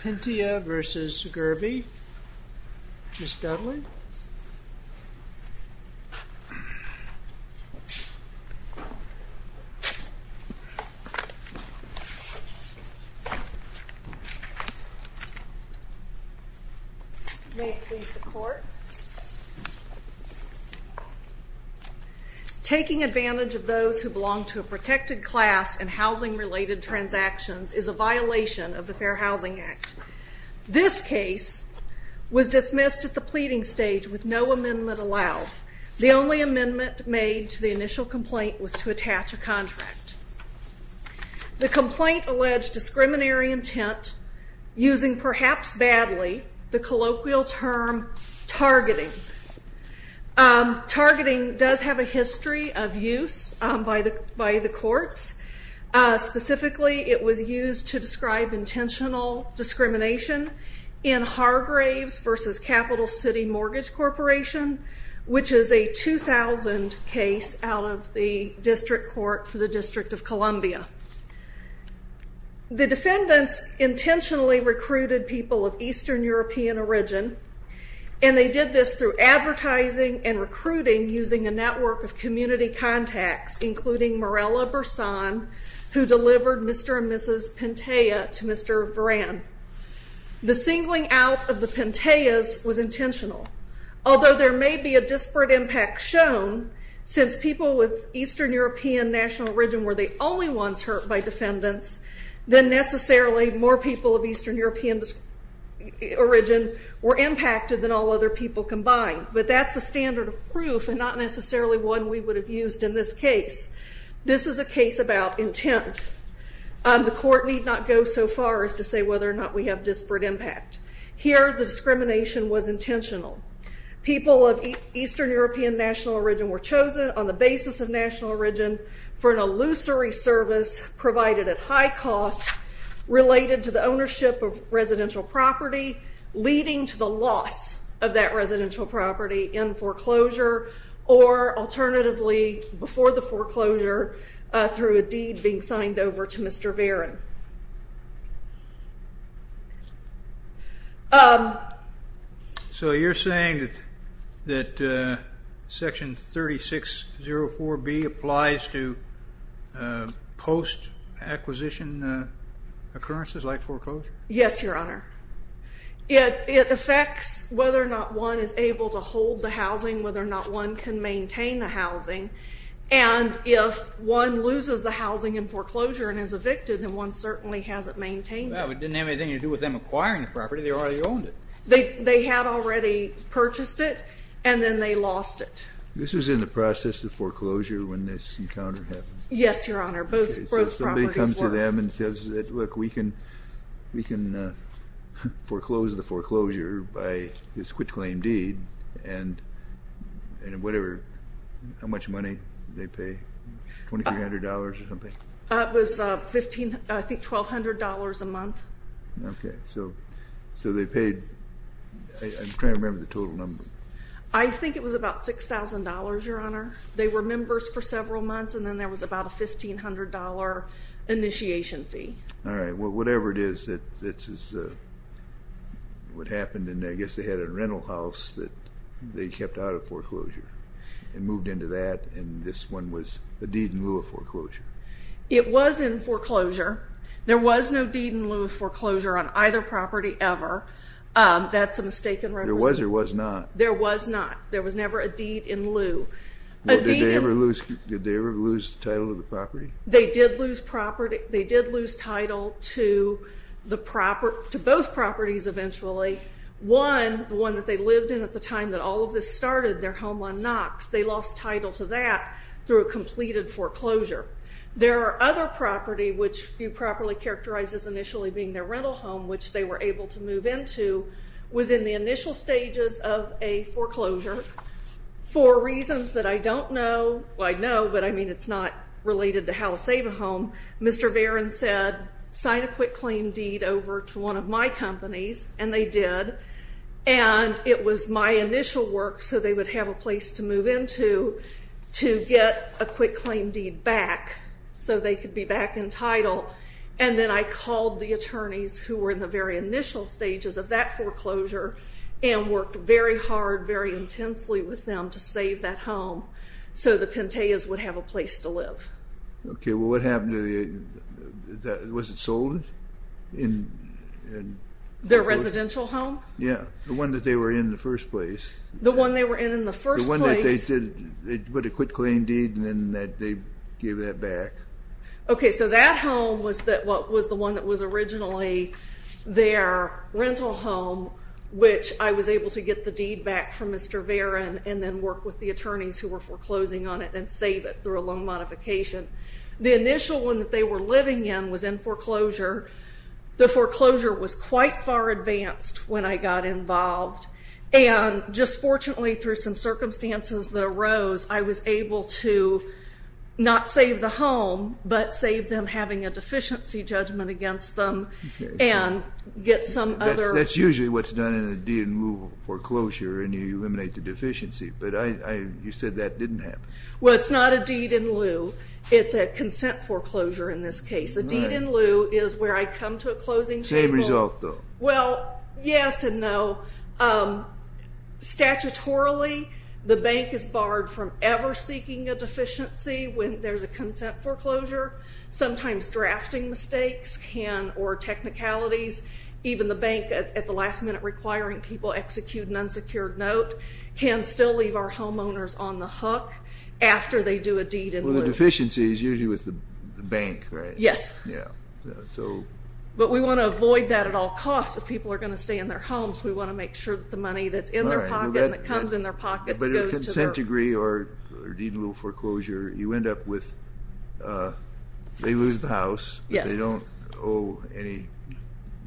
Pintea v. Gurvey. Ms. Dudley. May it please the court. Taking advantage of those who belong to a protected class and housing related transactions is a violation of the Fair Housing Act. This case was dismissed at the pleading stage with no amendment allowed. The only amendment made to the initial complaint was to attach a contract. The complaint alleged discriminatory intent using perhaps badly the colloquial term targeting. Targeting does have a history of use by the courts. Specifically it was used to describe intentional discrimination in Hargraves v. Capital City Mortgage Corporation which is a 2000 case out of the District Court for the District of Columbia. The defendants intentionally recruited people of Eastern European origin and they did this through advertising and recruiting using a network of community contacts including Mirella Bersan who delivered Mr. and Mrs. Pintea to Mr. Veran. The singling out of the Pinteas was intentional although there may be a disparate impact shown since people with Eastern European national origin were the only ones hurt by defendants. Then necessarily more people of Eastern European origin were impacted than all other people combined but that's a standard of proof and not necessarily one we would have used in this case. This is a case about intent. The court need not go so far as to say whether or not we have disparate impact. Here the discrimination was intentional. People of Eastern European national origin were chosen on the basis of national origin for an illusory service provided at high cost related to the ownership of residential property leading to the loss of that residential property in foreclosure or alternatively before the foreclosure through a deed being signed over to Mr. Veran. So you're saying that section 3604B applies to post acquisition occurrences like foreclosure? Yes your honor. It affects whether or not one is able to hold the housing, whether or not one can certainly has it maintained. Well it didn't have anything to do with them acquiring the property, they already owned it. They had already purchased it and then they lost it. This was in the process of foreclosure when this encounter happened? Yes your honor, both properties were. So somebody comes to them and says look we can foreclose the foreclosure by this I think $1,200 a month. Okay, so they paid, I'm trying to remember the total number. I think it was about $6,000 your honor. They were members for several months and then there was about a $1,500 initiation fee. All right, well whatever it is that this is what happened and I guess they had a rental house that they kept out of foreclosure and moved into that and this one was a deed in lieu of foreclosure? It was in foreclosure. There was no deed in lieu of foreclosure on either property ever. That's a mistaken representation. There was or was not? There was not. There was never a deed in lieu. Did they ever lose the title of the property? They did lose title to both properties eventually. One, the one that they lived in at the time that all of this started, their home on Knox, they lost title to that through a completed foreclosure. There are other property which you properly characterize as initially being their rental home which they were able to move into was in the initial stages of a foreclosure. For reasons that I don't know, well I know but I mean it's not related to how to save a home, Mr. Varon said sign a quick claim deed over to one of my and it was my initial work so they would have a place to move into to get a quick claim deed back so they could be back in title and then I called the attorneys who were in the very initial stages of that foreclosure and worked very hard, very intensely with them to save that home so the Penteyas would have a place to live. Okay, well what happened to the, was it sold? Their residential home? Yeah, the one that they were in the first place. The one they were in in the first place? The one that they did, they put a quick claim deed and then that they gave that back. Okay, so that home was that what was the one that was originally their rental home which I was able to get the deed back from Mr. Varon and then work with the attorneys who were foreclosing on it and save it through a loan modification. The initial one that they were foreclosure, the foreclosure was quite far advanced when I got involved and just fortunately through some circumstances that arose I was able to not save the home but save them having a deficiency judgment against them and get some other. That's usually what's done in a deed in lieu foreclosure and you eliminate the deficiency but you said that didn't happen. Well it's not a consent foreclosure in this case. A deed in lieu is where I come to a closing table. Same result though. Well yes and no. Statutorily the bank is barred from ever seeking a deficiency when there's a consent foreclosure. Sometimes drafting mistakes can or technicalities even the bank at the last minute requiring people execute an unsecured note can still leave our homeowners on the hook after they do a deed in lieu. Well the deficiency is usually with the bank right? Yes. Yeah so. But we want to avoid that at all costs if people are going to stay in their homes we want to make sure that the money that's in their pocket that comes in their pockets. But a consent degree or deed in lieu foreclosure you end up with they lose the house. Yes. They don't owe any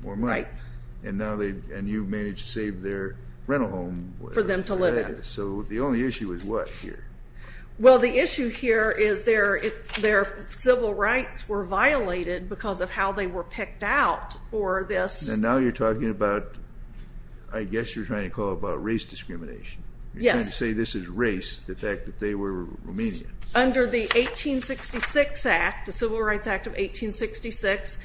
more money. Right. And now they and you've managed to save their rental home. For them to live in. So the only issue is what here? Well the issue here is their their civil rights were violated because of how they were picked out for this. And now you're talking about I guess you're trying to call about race discrimination. You're trying to say this is race the fact that they were Romanian. Under the 1866 act the Civil Rights Act of 1866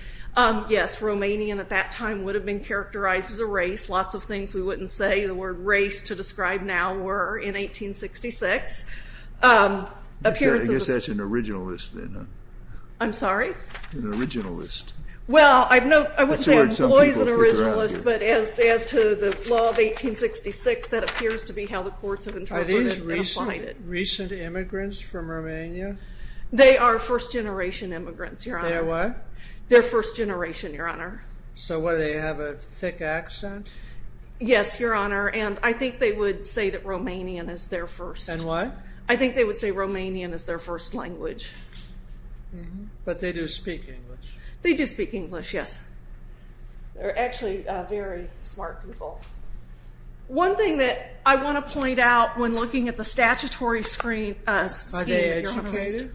yes Romanian at that time would have been characterized as a race. Lots of things we race to describe now were in 1866. I guess that's an originalist then. I'm sorry? An originalist. Well I've no I wouldn't say employs an originalist but as as to the law of 1866 that appears to be how the courts have interpreted and applied it. Are these recent immigrants from Romania? They are first generation immigrants your honor. They're what? They're first generation your honor. So what do they have a thick accent? Yes your honor and I think they would say that Romanian is their first. And why? I think they would say Romanian is their first language. But they do speak English. They do speak English yes. They're actually very smart people. One thing that I want to point out when looking at the statutory screen. Are they educated?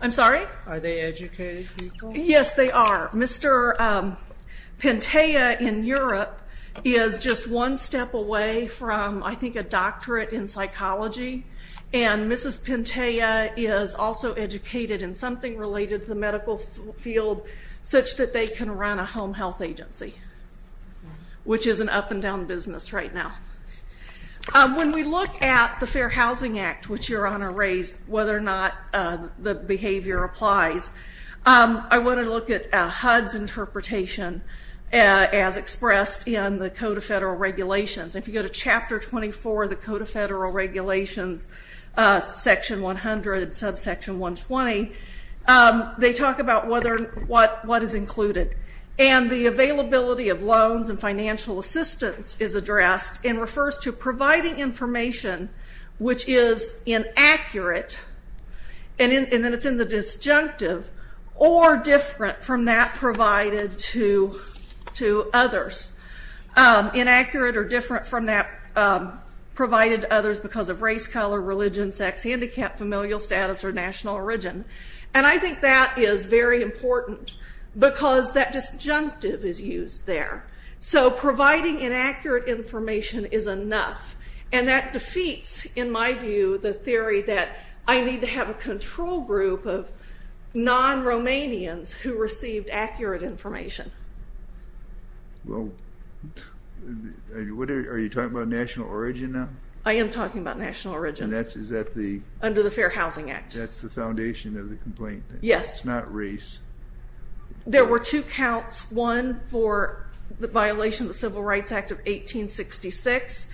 I'm sorry? Are they educated people? Yes they are. Mr. Pentea in Europe is just one step away from I think a doctorate in psychology and Mrs. Pentea is also educated in something related to the medical field such that they can run a home health agency. Which is an up and down business right now. When we look at the Fair Housing Act which your honor raised whether or not the behavior applies. I want to look at HUD's interpretation as expressed in the Code of Federal Regulations. If you go to chapter 24 the Code of Federal Regulations section 100 subsection 120. They talk about whether what what is included. And the availability of loans and financial assistance is addressed and refers to providing information which is inaccurate and then it's in the disjunctive or different from that provided to others. Inaccurate or different from that provided to others because of race, color, religion, sex, handicap, familial status, or national origin. And I think that is very important because that disjunctive is used there. So providing inaccurate information is enough and that defeats in my view the theory that I need to have a control group of non-Romanians who received accurate information. Well what are you talking about national origin now? I am talking about national origin. That's is that the under the Fair Housing Act. That's the foundation of the complaint. Yes. It's race. There were two counts. One for the violation of the Civil Rights Act of 1866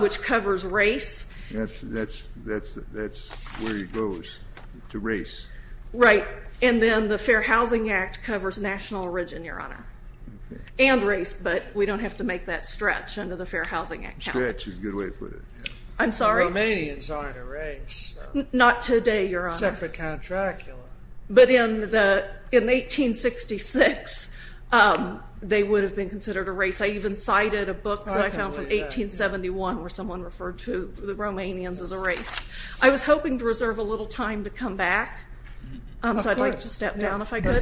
which covers race. That's that's that's that's where he goes to race. Right and then the Fair Housing Act covers national origin your honor and race but we don't have to make that stretch under the Fair Housing Act. Stretch is a good way to put it. I'm sorry. Romanians aren't a race. Not today your honor. Except for Count Dracula. But in the in 1866 they would have been considered a race. I even cited a book that I found from 1871 where someone referred to the Romanians as a race. I was hoping to reserve a little time to come back so I'd like to step down if I could.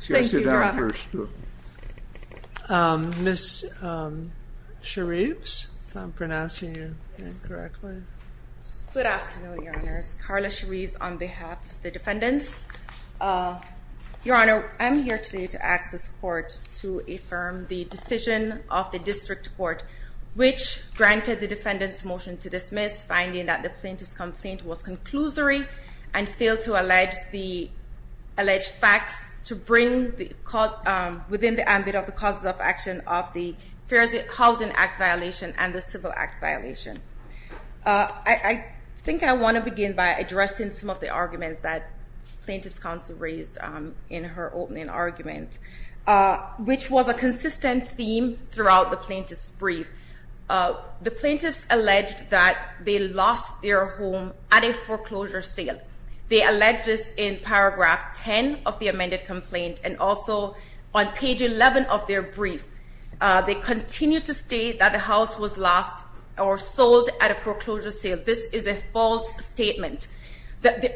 Sit down first. Ms. Shareefs if I'm pronouncing your name correctly. Good afternoon your honors. Carla Shareefs on behalf of the defendants. Your honor I'm here today to ask this court to affirm the decision of the district court which granted the defendant's motion to dismiss finding that the plaintiff's complaint was conclusory and failed to allege the bring the cause within the ambit of the causes of action of the Fair Housing Act violation and the Civil Act violation. I think I want to begin by addressing some of the arguments that plaintiff's counsel raised in her opening argument which was a consistent theme throughout the plaintiff's brief. The plaintiffs alleged that they lost their home at a foreclosure sale. They alleged this in and also on page 11 of their brief they continue to state that the house was lost or sold at a foreclosure sale. This is a false statement.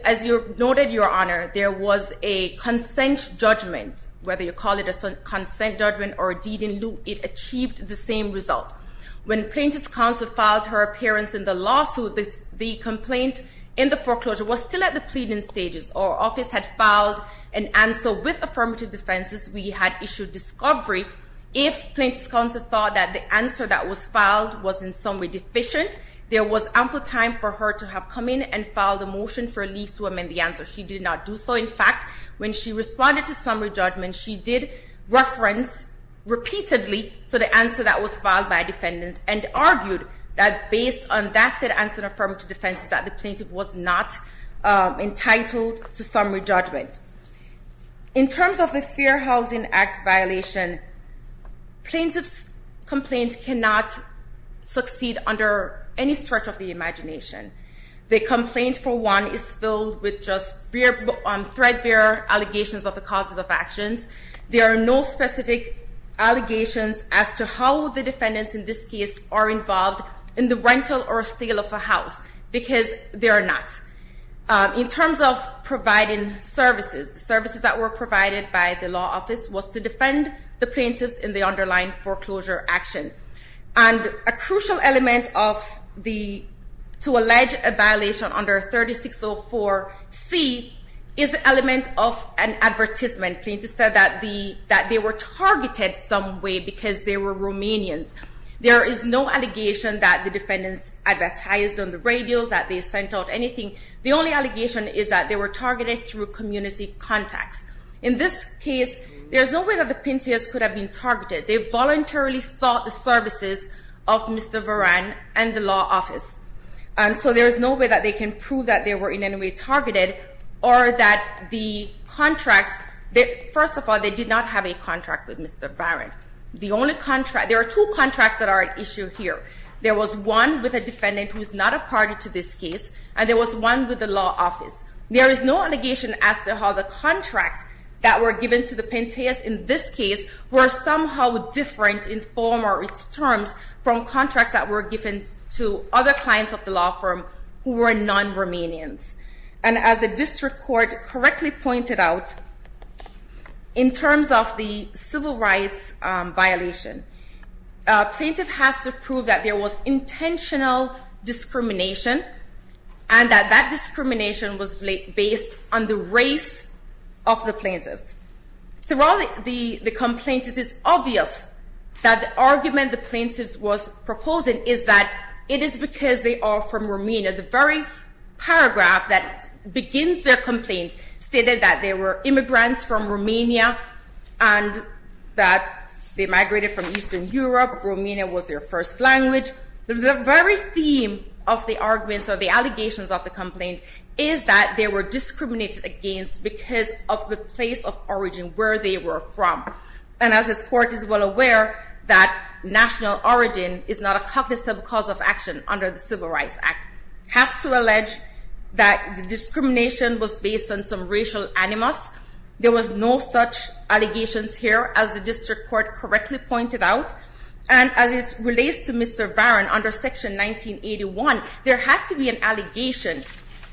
As you noted your honor there was a consent judgment whether you call it a consent judgment or a deed in lieu it achieved the same result. When plaintiff's counsel filed her appearance in the lawsuit the complaint in the foreclosure was still at the defenses we had issued discovery if plaintiff's counsel thought that the answer that was filed was in some way deficient there was ample time for her to have come in and file the motion for a lease to amend the answer. She did not do so. In fact when she responded to summary judgment she did reference repeatedly for the answer that was filed by defendants and argued that based on that said is that the plaintiff was not entitled to summary judgment. In terms of the Fair Housing Act violation plaintiff's complaint cannot succeed under any stretch of the imagination. The complaint for one is filled with just threadbare allegations of the causes of actions. There are no specific allegations as to how the defendants in this case are involved in the rental or sale of a house because they are not. In terms of providing services, the services that were provided by the law office was to defend the plaintiffs in the underlying foreclosure action and a crucial element of the to allege a violation under 3604 C is an element of an advertisement. Plaintiffs said that they were targeted some way because they were Romanians. There is no allegation that the defendants advertised on the radios that they sent out anything. The only allegation is that they were targeted through community contacts. In this case there's no way that the plaintiffs could have been targeted. They voluntarily sought the services of Mr. Varan and the law office and so there is no way that they can prove that they were in any way targeted or that the contracts they first of all they did not have a contract with Mr. Varan. The only contract there are two contracts that are at issue here. There was one with a defendant who's not a party to this case and there was one with the law office. There is no allegation as to how the contracts that were given to the Pentheus in this case were somehow different in form or its terms from contracts that were given to other clients of the law firm who were non-Romanians and as the district court correctly pointed out in terms of the civil rights violation, a plaintiff has to prove that there was intentional discrimination and that that discrimination was based on the race of the plaintiffs. Throughout the complaint it is obvious that the argument the plaintiffs was proposing is that it is because they are from Romania. The very paragraph that begins their complaint stated that they were immigrants from Romania and that they migrated from Eastern Europe. Romania was their first language. The very theme of the arguments or the allegations of the complaint is that they were discriminated against because of the place of origin where they were from and as this court is well aware that national origin is not a cognizant cause of action under the Civil Rights Act. I have to allege that the discrimination was based on some racial animus. There was no such allegations here as the district court correctly pointed out and as it relates to Mr. Varon under section 1981, there had to be an allegation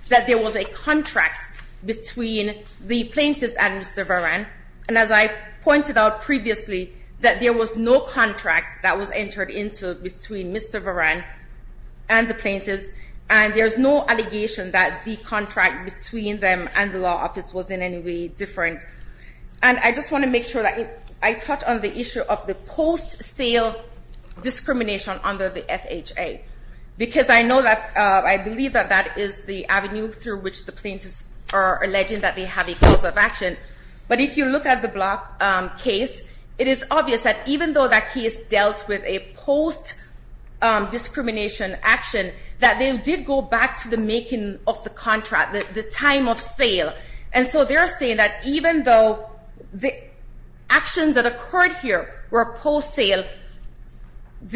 that there was a contract between the plaintiffs and Mr. Varon and as I pointed out previously that there was no contract that was entered into between Mr. Varon and the plaintiffs and there's no allegation that the contract between them and the law office was in any way different and I just want to make sure that I touch on the issue of the post-sale discrimination under the FHA because I know that I believe that is the avenue through which the plaintiffs are alleging that they have a cause of action but if you look at the Block case, it is obvious that even though that case dealt with a post discrimination action that they did go back to the making of the contract, the time of sale and so they're saying that even though the actions that occurred here were post-sale, at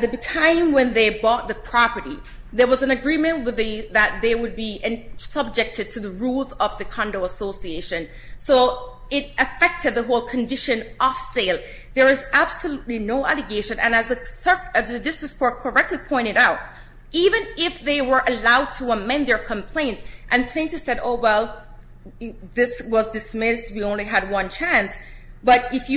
the time when they bought the property, there was an agreement that they would be subjected to the rules of the condo association so it affected the whole condition of sale. There is absolutely no allegation and as the district court correctly pointed out, even if they were allowed to amend their complaints and plaintiffs said, oh well, this was dismissed, we only had one chance but if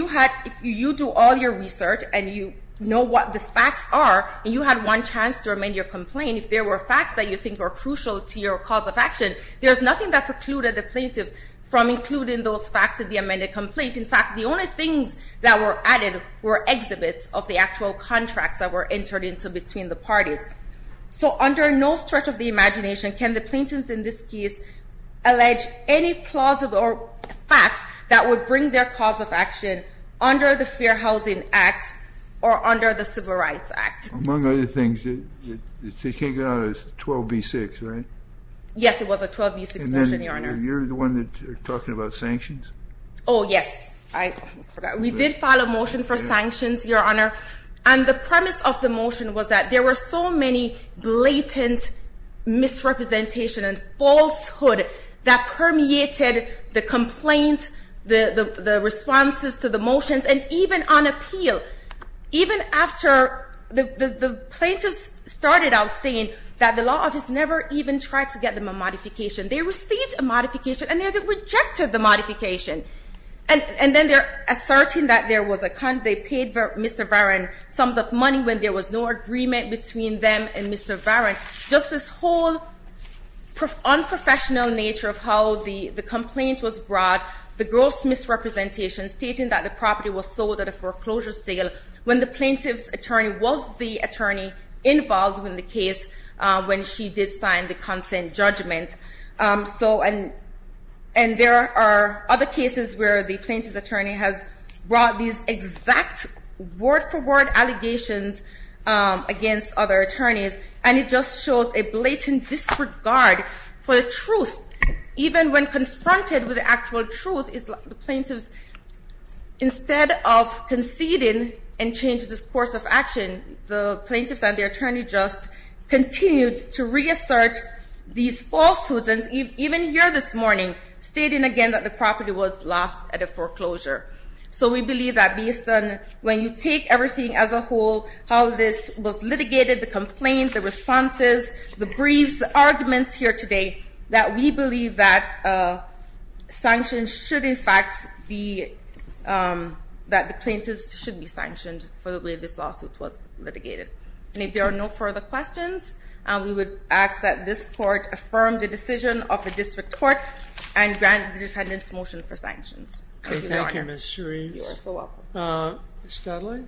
you do all your research and you know what the facts are and you had one chance to amend your complaint, if there were facts that you think are crucial to your cause of action, there's nothing that precluded the plaintiff from including those facts of the amended complaint. In fact, the only things that were added were exhibits of the actual contracts that were entered into between the parties. So under no stretch of the imagination, can the plaintiffs in this case allege any plausible facts that would bring their cause of action under the Fair Housing Act or under the Civil Rights Act? Among other things, it's a 12b6, right? Yes, it was a 12b6 motion, your honor. You're the one that's talking about sanctions? Oh yes, I forgot. We did file a motion for sanctions, your honor, and the premise of the motion was that there were so many blatant misrepresentation and falsehood that permeated the complaint, the responses to the motions and even on appeal, even after the plaintiffs started out saying that the law office never even tried to get them a modification. They received a modification and they rejected the modification. And then they're asserting that they paid Mr. Varon sums of money when there was no agreement between them and Mr. Varon. Just this whole unprofessional nature of how the complaint was brought, the gross misrepresentation stating that the property was sold at a foreclosure sale when the plaintiff's attorney was the attorney involved in the case when she did sign the other cases where the plaintiff's attorney has brought these exact word-for-word allegations against other attorneys, and it just shows a blatant disregard for the truth. Even when confronted with the actual truth, the plaintiffs, instead of conceding and change this course of action, the plaintiffs and their attorney just continued to reassert these falsehoods. And even here this morning, stating again that the property was lost at a foreclosure. So we believe that based on when you take everything as a whole, how this was litigated, the complaints, the responses, the briefs, the arguments here today, that we believe that sanctions should in fact be that the plaintiffs should be sanctioned for the way this lawsuit was litigated. And if there are no further questions, we would ask that this court affirm the decision of the district court and grant the defendant's motion for sanctions. Thank you, Ms. Sharif. You are so welcome. Ms. Dudley?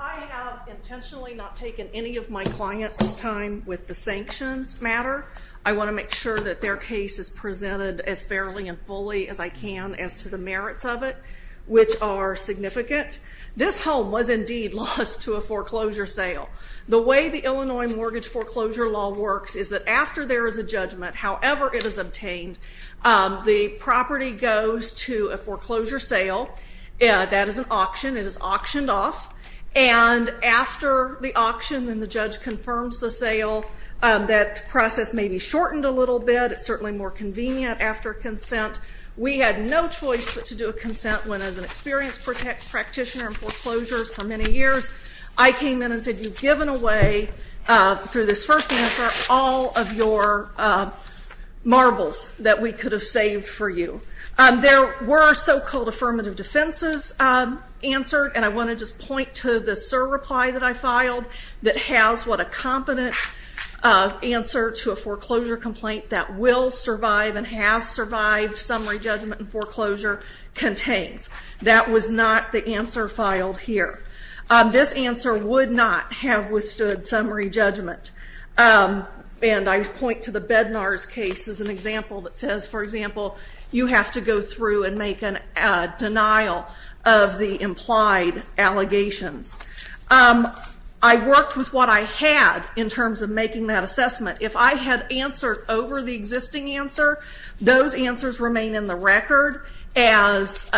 I have intentionally not taken any of my client's time with the sanctions matter. I want to make sure that their case is presented as fairly and fully as I can as to the merits of it, which are significant. This home was indeed lost to a foreclosure sale. The way the Illinois mortgage foreclosure law works is that after there is a judgment, however it is obtained, the property goes to a foreclosure sale. That is an auction. It is auctioned off. And after the auction and the judge confirms the sale, that process may be shortened a little bit. It's no choice but to do a consent when, as an experienced practitioner in foreclosures for many years, I came in and said you've given away, through this first answer, all of your marbles that we could have saved for you. There were so-called affirmative defenses answered, and I want to just point to the SIR reply that I filed that has what a competent answer to a foreclosure complaint that will survive and has survived summary judgment and foreclosure contains. That was not the answer filed here. This answer would not have withstood summary judgment. And I point to the Bednar's case as an example that says, for example, you have to go through and make a denial of the implied allegations. I worked with what I had in terms of making that assessment. If I had answered over the existing answer, those answers remain in the record as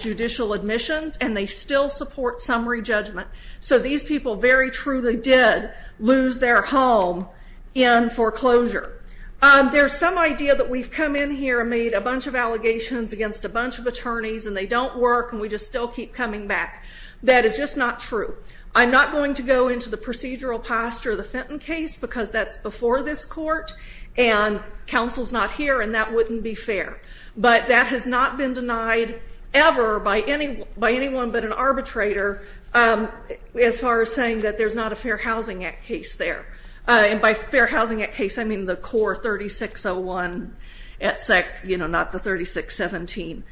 judicial admissions, and they still support summary judgment. So these people very truly did lose their home in foreclosure. There's some idea that we've come in here and made a bunch of allegations against a bunch of attorneys, and they don't work, and we just still keep coming back. That is just not true. I'm not going to go into the procedural posture of the Fenton case because that's before this court, and counsel's not here, and that wouldn't be fair. But that has not been denied ever by anyone but an arbitrator as far as saying that there's not a Fair Housing Act case there. And by Fair Housing Act case, I mean the core 3601 at SEC, you know, not the 3617.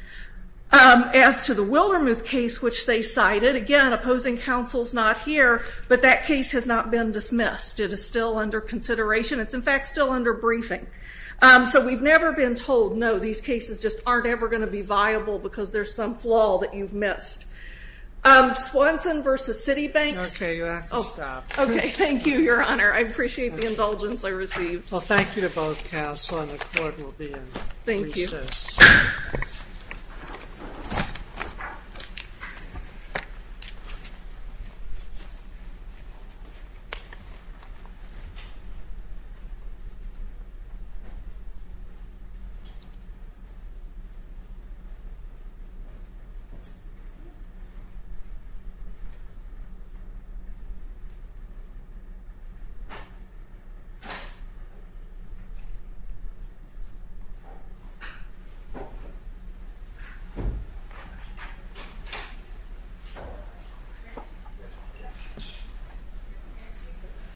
As to the Wildermuth case, which they cited, again, opposing counsel's not here, but that case has not been dismissed. It is still under consideration. It's, in fact, still under briefing. So we've never been told, no, these cases just aren't ever going to be viable because there's some flaw that you've missed. Swanson versus Citibank. Okay, you have to stop. Okay, thank you, your honor. I appreciate the indulgence I received. Well, thank you to both counsel and the court. We'll be in recess. Thank you.